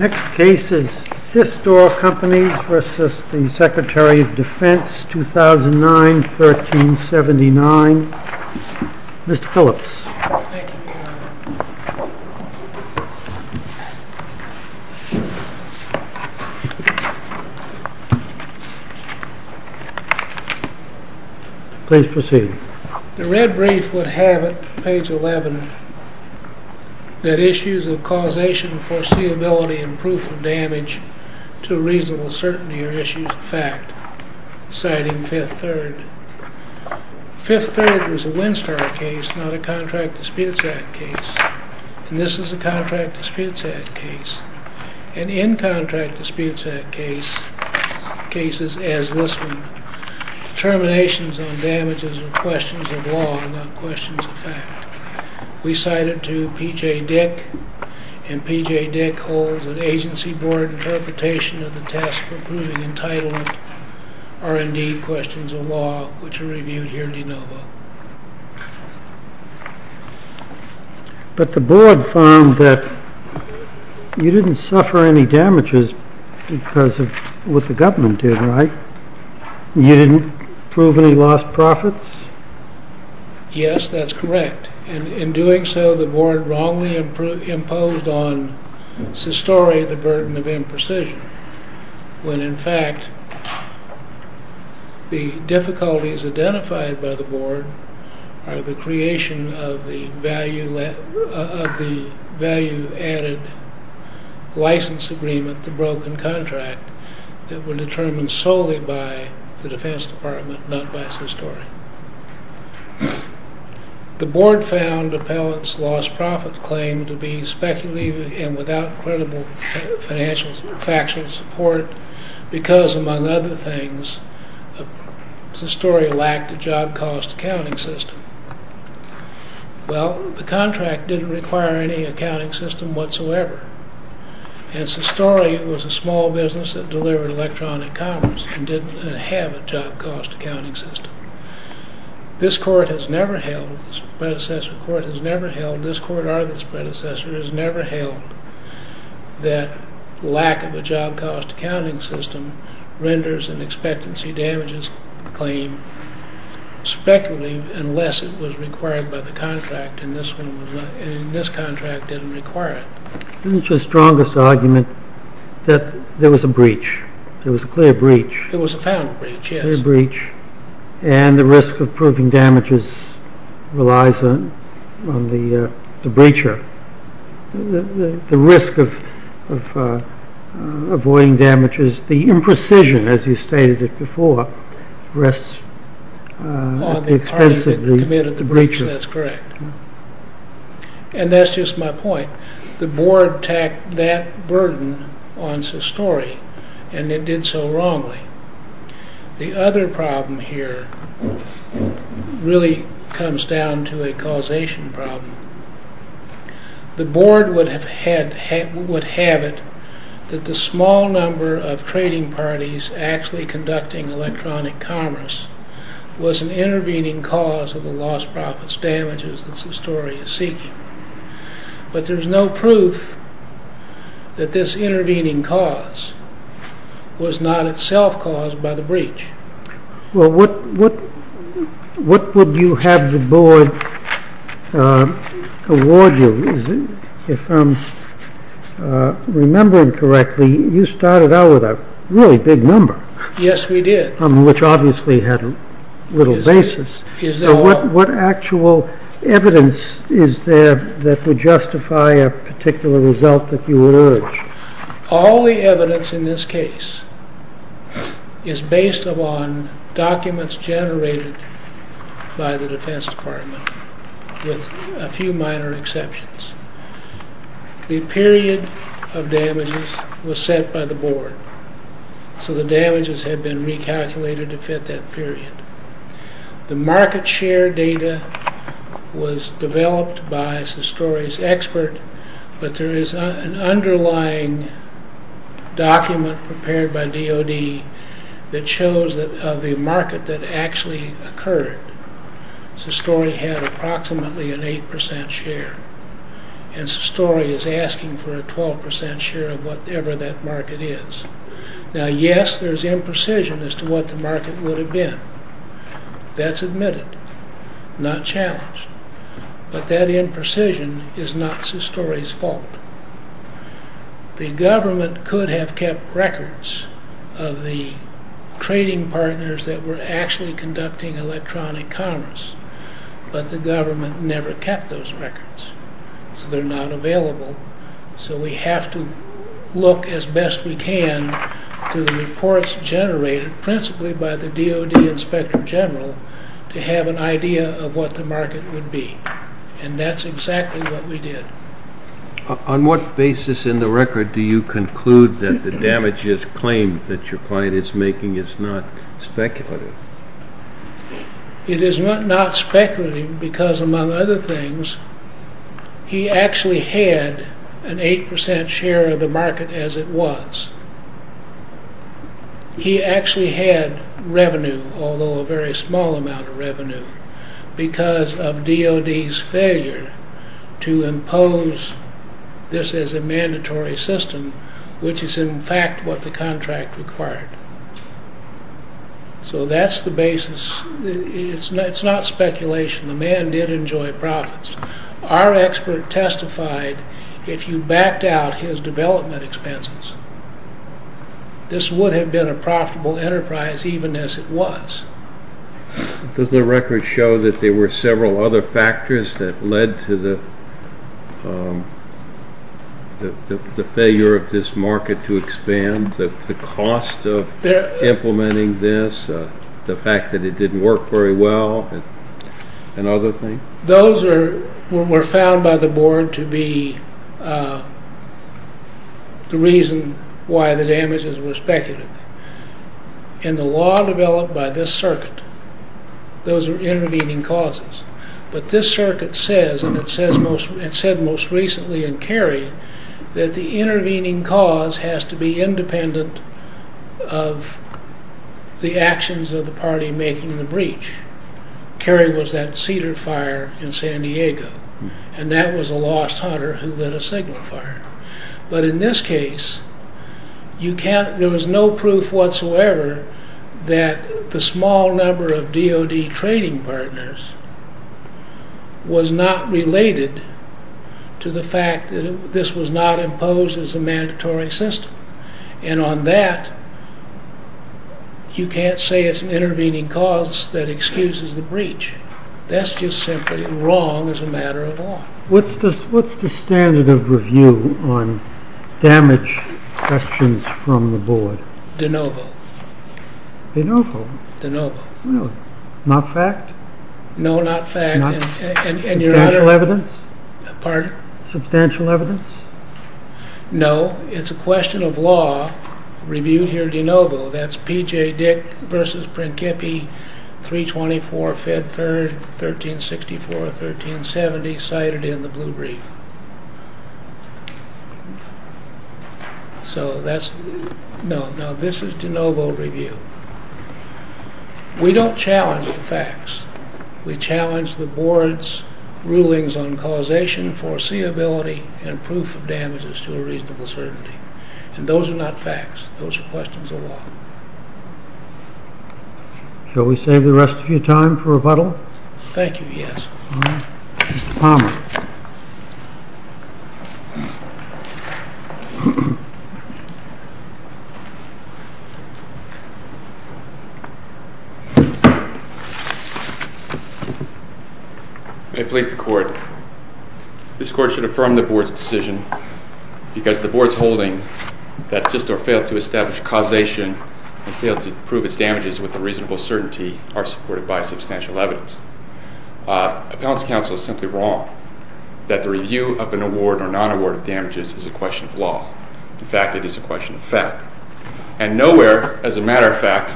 Next case is Sistore Companies v. Secretary of Defense, 2009-1379. Mr. Phillips. Please proceed. The red brief would have it, page 11, that issues of causation, foreseeability, and proof of damage to a reasonable certainty are issues of fact, citing Fifth Third. Fifth Third was a Winstar case, not a contract disputes act case. And this is a contract disputes act case. And in contract disputes act cases, as this one, determinations on damages are questions of law, not questions of fact. We cite it to P.J. Dick, and P.J. Dick holds an agency board interpretation of the test for proving entitlement are indeed questions of law, which are reviewed here at ENOVA. But the board found that you didn't suffer any damages because of what the government did, right? You didn't prove any lost profits? Yes, that's correct. In doing so, the board wrongly imposed on Sistore the burden of imprecision. When, in fact, the difficulties identified by the board are the creation of the value added license agreement, the broken contract, that were determined solely by the defense department, not by Sistore. The board found Appellant's lost profit claim to be speculative and without credible financial factual support because, among other things, Sistore lacked a job cost accounting system. Well, the contract didn't require any accounting system whatsoever. And Sistore was a small business that delivered electronic commerce and didn't have a job cost accounting system. This predecessor court has never held that lack of a job cost accounting system renders an expectancy damages claim speculative unless it was required by the contract. And this contract didn't require it. Isn't your strongest argument that there was a breach? There was a clear breach. There was a found breach, yes. And the risk of proving damages relies on the breacher. The risk of avoiding damages, the imprecision, as you stated it before, rests at the expense of the breacher. And that's just my point. The board tacked that burden on Sistore and it did so wrongly. The other problem here really comes down to a causation problem. The board would have it that the small number of trading parties actually conducting electronic commerce was an intervening cause of the lost profits damages that Sistore is seeking. But there's no proof that this intervening cause was not itself caused by the breach. Well, what would you have the board award you? If I'm remembering correctly, you started out with a really big number. Yes, we did. Which obviously had little basis. What actual evidence is there that would justify a particular result that you would urge? All the evidence in this case is based upon documents generated by the Defense Department, with a few minor exceptions. The period of damages was set by the board, so the damages had been recalculated to fit that period. The market share data was developed by Sistore's expert, but there is an underlying document prepared by DOD that shows the market that actually occurred. Sistore had approximately an 8% share. And Sistore is asking for a 12% share of whatever that market is. Now, yes, there's imprecision as to what the market would have been. That's admitted, not challenged. But that imprecision is not Sistore's fault. The government could have kept records of the trading partners that were actually conducting electronic commerce, but the government never kept those records. So they're not available. So we have to look as best we can to the reports generated, principally by the DOD Inspector General, to have an idea of what the market would be. And that's exactly what we did. On what basis in the record do you conclude that the damages claim that your client is making is not speculative? It is not speculative because, among other things, he actually had an 8% share of the market as it was. He actually had revenue, although a very small amount of revenue, because of DOD's failure to impose this as a mandatory system, which is in fact what the contract required. So that's the basis. It's not speculation. The man did enjoy profits. Our expert testified, if you backed out his development expenses, this would have been a profitable enterprise, even as it was. Does the record show that there were several other factors that led to the failure of this market to expand? The cost of implementing this, the fact that it didn't work very well, and other things? Those were found by the board to be the reason why the damages were speculative. In the law developed by this circuit, those are intervening causes. But this circuit says, and it said most recently in Cary, that the intervening cause has to be independent of the actions of the party making the breach. Cary was that cedar fire in San Diego, and that was a lost hunter who lit a signal fire. But in this case, there was no proof whatsoever that the small number of DOD trading partners was not related to the fact that this was not imposed as a mandatory system. And on that, you can't say it's an intervening cause that excuses the breach. That's just simply wrong as a matter of law. What's the standard of review on damage questions from the board? De novo. De novo? De novo. Not fact? No, not fact. Substantial evidence? Pardon? Substantial evidence? No, it's a question of law reviewed here de novo. That's P.J. Dick versus Principi, 324, Fed 3rd, 1364, 1370, cited in the blue brief. So that's, no, this is de novo review. We don't challenge the facts. We challenge the board's rulings on causation, foreseeability, and proof of damages to a reasonable certainty. And those are not facts. Those are questions of law. Shall we save the rest of your time for rebuttal? Thank you, yes. Mr. Palmer. May it please the court. This court should affirm the board's decision because the board's holding that Sistar failed to establish causation and failed to prove its damages with a reasonable certainty are supported by substantial evidence. Appellant's counsel is simply wrong that the review of an award or non-award of damages is a question of law. And nowhere, as a matter of fact,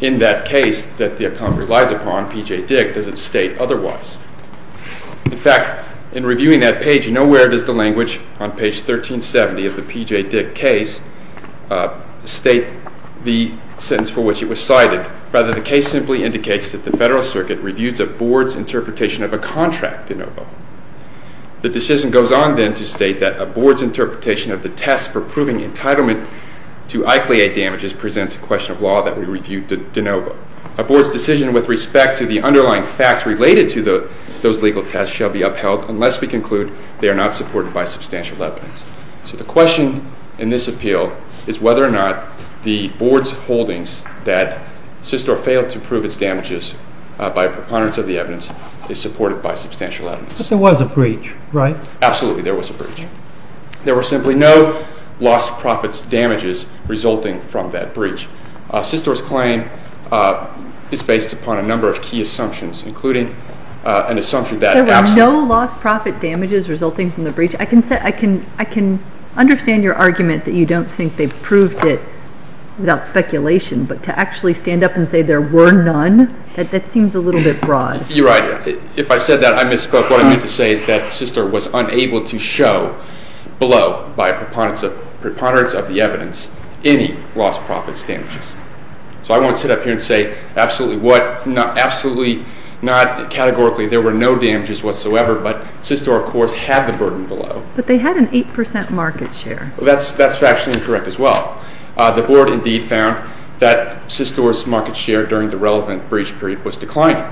in that case that the appellant relies upon, P.J. Dick, does it state otherwise. In fact, in reviewing that page, nowhere does the language on page 1370 of the P.J. Dick case state the sentence for which it was cited. Rather, the case simply indicates that the Federal Circuit reviews a board's interpretation of a contract de novo. The decision goes on then to state that a board's interpretation of the test for proving entitlement to ICLEI damages presents a question of law that we review de novo. A board's decision with respect to the underlying facts related to those legal tests shall be upheld unless we conclude they are not supported by substantial evidence. So the question in this appeal is whether or not the board's holdings that Sistar failed to prove its damages by preponderance of the evidence is supported by substantial evidence. But there was a breach, right? Absolutely, there was a breach. There were simply no lost profits damages resulting from that breach. Sistar's claim is based upon a number of key assumptions, including an assumption that absolutely No lost profit damages resulting from the breach. I can understand your argument that you don't think they proved it without speculation, but to actually stand up and say there were none, that seems a little bit broad. You're right. If I said that, I misspoke. What I meant to say is that Sistar was unable to show below, by preponderance of the evidence, any lost profits damages. So I won't sit up here and say absolutely not categorically there were no damages whatsoever, but Sistar of course had the burden below. But they had an 8% market share. That's factually incorrect as well. The board indeed found that Sistar's market share during the relevant breach period was declining.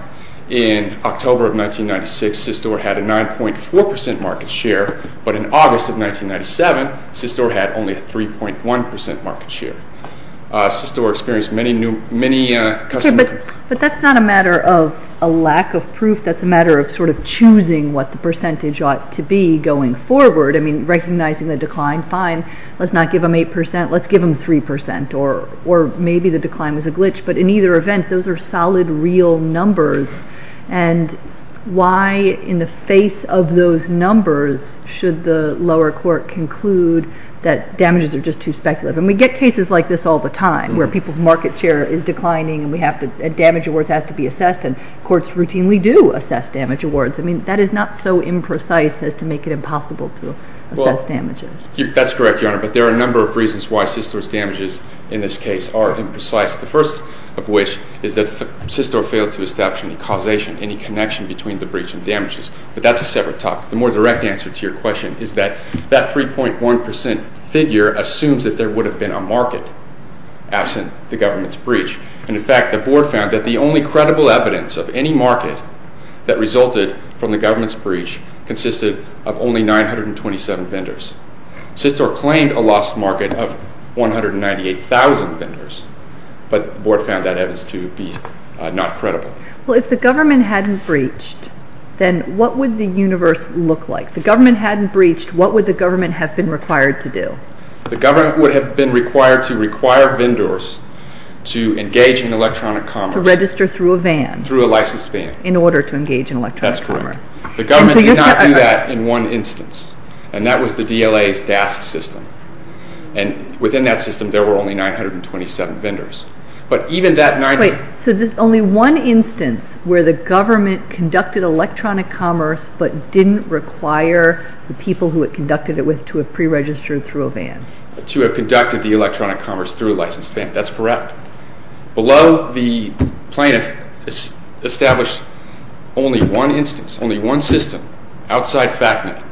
In October of 1996, Sistar had a 9.4% market share, but in August of 1997, Sistar had only a 3.1% market share. Sistar experienced many customer complaints. But that's not a matter of a lack of proof. That's a matter of sort of choosing what the percentage ought to be going forward. I mean, recognizing the decline, fine. Let's not give them 8%. Let's give them 3%, or maybe the decline was a glitch. But in either event, those are solid, real numbers. And why in the face of those numbers should the lower court conclude that damages are just too speculative? And we get cases like this all the time where people's market share is declining and we have to – damage awards have to be assessed and courts routinely do assess damage awards. I mean, that is not so imprecise as to make it impossible to assess damages. That's correct, Your Honor, but there are a number of reasons why Sistar's damages in this case are imprecise. The first of which is that Sistar failed to establish any causation, any connection between the breach and damages. But that's a separate topic. The more direct answer to your question is that that 3.1% figure assumes that there would have been a market absent the government's breach. And, in fact, the Board found that the only credible evidence of any market that resulted from the government's breach consisted of only 927 vendors. Sistar claimed a lost market of 198,000 vendors, but the Board found that evidence to be not credible. Well, if the government hadn't breached, then what would the universe look like? If the government hadn't breached, what would the government have been required to do? The government would have been required to require vendors to engage in electronic commerce. To register through a van. Through a licensed van. In order to engage in electronic commerce. That's correct. The government did not do that in one instance, and that was the DLA's DASC system. And within that system, there were only 927 vendors. So there's only one instance where the government conducted electronic commerce but didn't require the people who it conducted it with to have pre-registered through a van. To have conducted the electronic commerce through a licensed van. That's correct. Below, the plaintiff established only one instance, only one system, outside FACNA,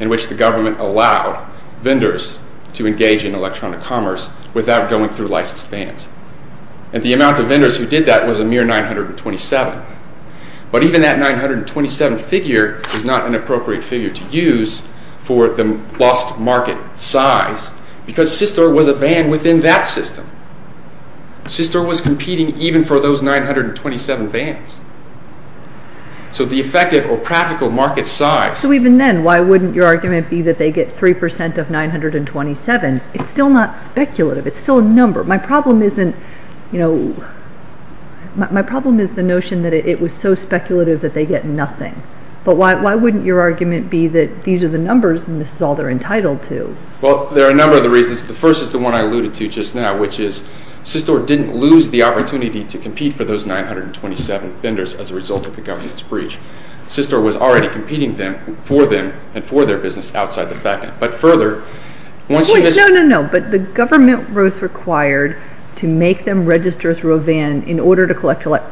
in which the government allowed vendors to engage in electronic commerce without going through licensed vans. And the amount of vendors who did that was a mere 927. But even that 927 figure is not an appropriate figure to use for the lost market size because Systor was a van within that system. Systor was competing even for those 927 vans. So the effective or practical market size. So even then, why wouldn't your argument be that they get 3% of 927? It's still a number. My problem isn't, you know, my problem is the notion that it was so speculative that they get nothing. But why wouldn't your argument be that these are the numbers and this is all they're entitled to? Well, there are a number of reasons. The first is the one I alluded to just now, which is Systor didn't lose the opportunity to compete for those 927 vendors as a result of the government's breach. Systor was already competing for them and for their business outside the FACNA. No, no, no. But the government was required to make them register through a van in order to participate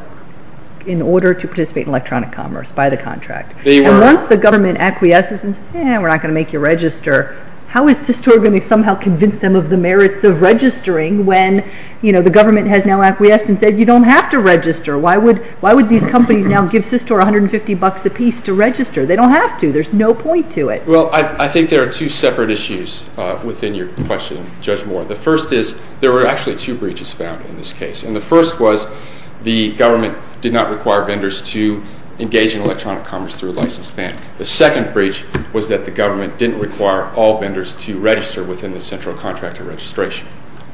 in electronic commerce by the contract. And once the government acquiesces and says, eh, we're not going to make you register, how is Systor going to somehow convince them of the merits of registering when the government has now acquiesced and said you don't have to register? Why would these companies now give Systor $150 a piece to register? They don't have to. There's no point to it. Well, I think there are two separate issues within your question, Judge Moore. The first is there were actually two breaches found in this case. And the first was the government did not require vendors to engage in electronic commerce through a licensed van. The second breach was that the government didn't require all vendors to register within the central contractor registration.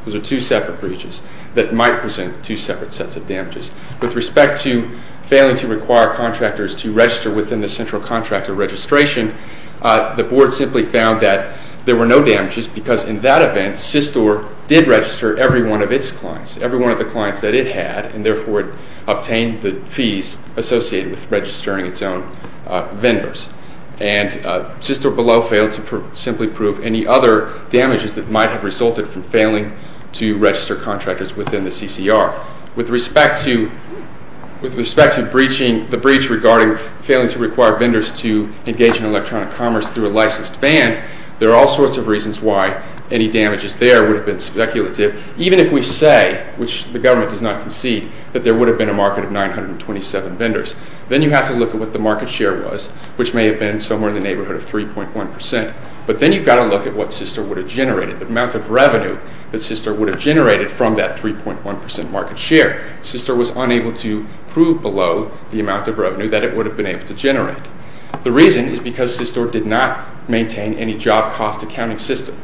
Those are two separate breaches that might present two separate sets of damages. With respect to failing to require contractors to register within the central contractor registration, the board simply found that there were no damages because in that event, Systor did register every one of its clients, every one of the clients that it had, and therefore it obtained the fees associated with registering its own vendors. And Systor Below failed to simply prove any other damages that might have resulted from failing to register contractors within the CCR. With respect to breaching the breach regarding failing to require vendors to engage in electronic commerce through a licensed van, there are all sorts of reasons why any damages there would have been speculative. Even if we say, which the government does not concede, that there would have been a market of 927 vendors, then you have to look at what the market share was, which may have been somewhere in the neighborhood of 3.1 percent. But then you've got to look at what Systor would have generated, the amount of revenue that Systor would have generated from that 3.1 percent market share. Systor was unable to prove below the amount of revenue that it would have been able to generate. The reason is because Systor did not maintain any job cost accounting system.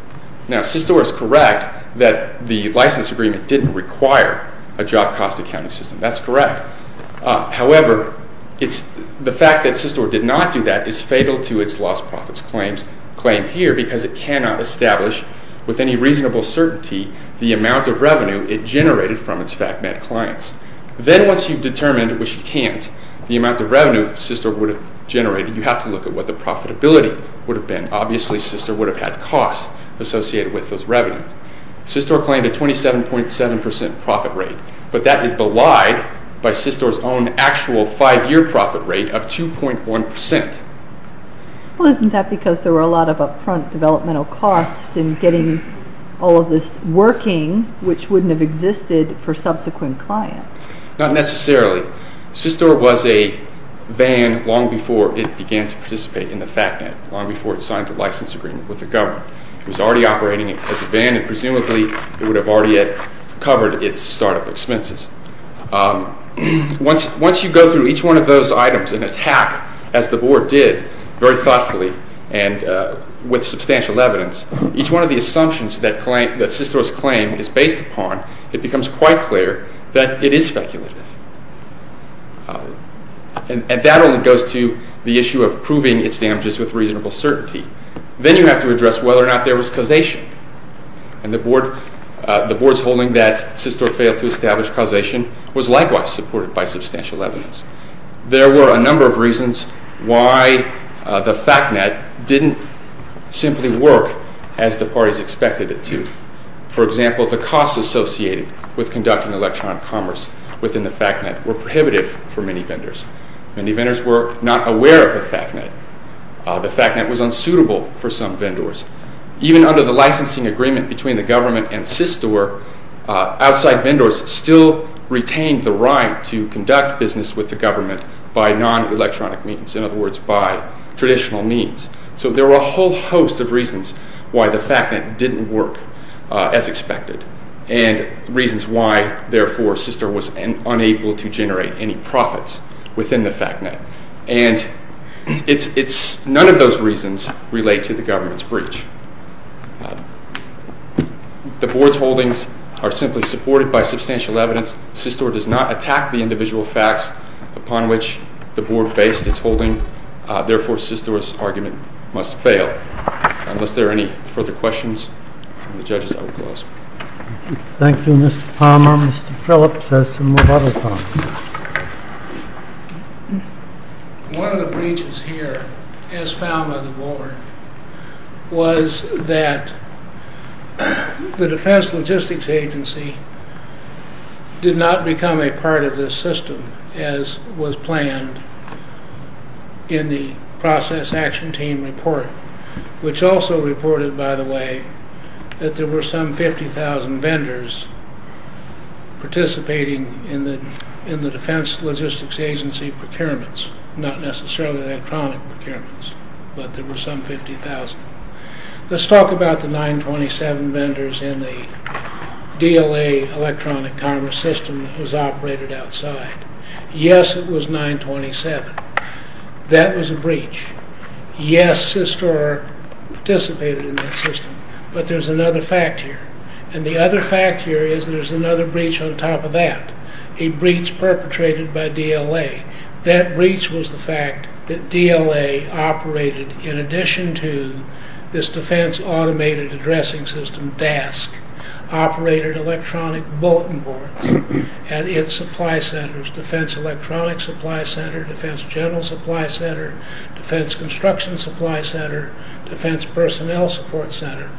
Now, Systor is correct that the license agreement didn't require a job cost accounting system. That's correct. However, the fact that Systor did not do that is fatal to its lost profits claim here because it cannot establish with any reasonable certainty the amount of revenue it generated from its FACMED clients. Then once you've determined, which you can't, the amount of revenue Systor would have generated, you have to look at what the profitability would have been. Obviously, Systor would have had costs associated with those revenues. Systor claimed a 27.7 percent profit rate, but that is belied by Systor's own actual five-year profit rate of 2.1 percent. Well, isn't that because there were a lot of up-front developmental costs in getting all of this working, which wouldn't have existed for subsequent clients? Not necessarily. Systor was a van long before it began to participate in the FACMED, long before it signed the license agreement with the government. It was already operating as a van, and presumably it would have already covered its startup expenses. Once you go through each one of those items and attack, as the Board did, very thoughtfully and with substantial evidence, each one of the assumptions that Systor's claim is based upon, it becomes quite clear that it is speculative. And that only goes to the issue of proving its damages with reasonable certainty. Then you have to address whether or not there was causation. And the Board's holding that Systor failed to establish causation was likewise supported by substantial evidence. There were a number of reasons why the FACMED didn't simply work as the parties expected it to. For example, the costs associated with conducting electronic commerce within the FACMED were prohibitive for many vendors. Many vendors were not aware of the FACMED. The FACMED was unsuitable for some vendors. Even under the licensing agreement between the government and Systor, outside vendors still retained the right to conduct business with the government by non-electronic means, in other words, by traditional means. So there were a whole host of reasons why the FACMED didn't work as expected, and reasons why, therefore, Systor was unable to generate any profits within the FACMED. And none of those reasons relate to the government's breach. The Board's holdings are simply supported by substantial evidence. Systor does not attack the individual facts upon which the Board based its holding. Therefore, Systor's argument must fail. Unless there are any further questions from the judges, I will close. Thank you, Mr. Palmer. Mr. Phillips has some rebuttals. One of the breaches here, as found by the Board, was that the Defense Logistics Agency did not become a part of this system, as was planned in the process action team report, which also reported, by the way, that there were some 50,000 vendors participating in the Defense Logistics Agency procurements, not necessarily the electronic procurements, but there were some 50,000. Let's talk about the 927 vendors in the DLA Electronic Commerce System that was operated outside. Yes, it was 927. That was a breach. Yes, Systor participated in that system, but there's another fact here, and the other fact here is there's another breach on top of that, a breach perpetrated by DLA. That breach was the fact that DLA operated, in addition to this Defense Automated Addressing System, DASC, operated electronic bulletin boards at its supply centers, Defense Electronic Supply Center, Defense General Supply Center, Defense Construction Supply Center, Defense Personnel Support Center.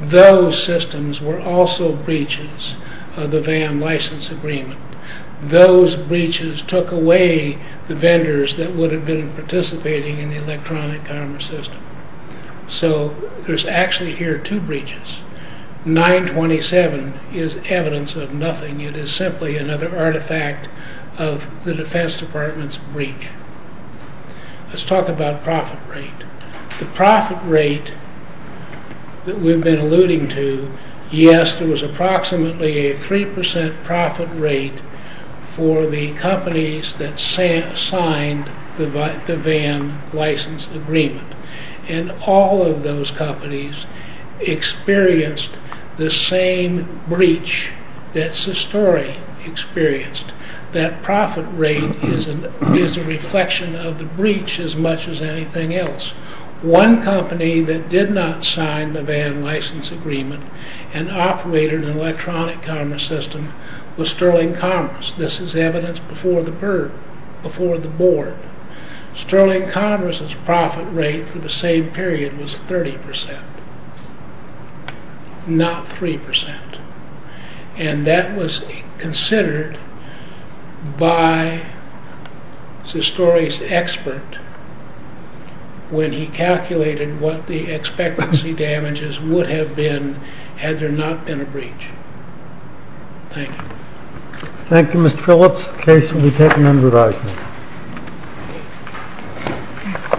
Those systems were also breaches of the VAM license agreement. Those breaches took away the vendors that would have been participating in the electronic commerce system. So there's actually here two breaches. 927 is evidence of nothing. It is simply another artifact of the Defense Department's breach. Let's talk about profit rate. The profit rate that we've been alluding to, yes, there was approximately a 3% profit rate for the companies that signed the VAM license agreement, and all of those companies experienced the same breach that Sistori experienced. That profit rate is a reflection of the breach as much as anything else. One company that did not sign the VAM license agreement and operated an electronic commerce system was Sterling Commerce. This is evidence before the board. Sterling Commerce's profit rate for the same period was 30%, not 3%. And that was considered by Sistori's expert when he calculated what the expectancy damages would have been had there not been a breach. Thank you. Thank you, Mr. Phillips. The case will be taken under review.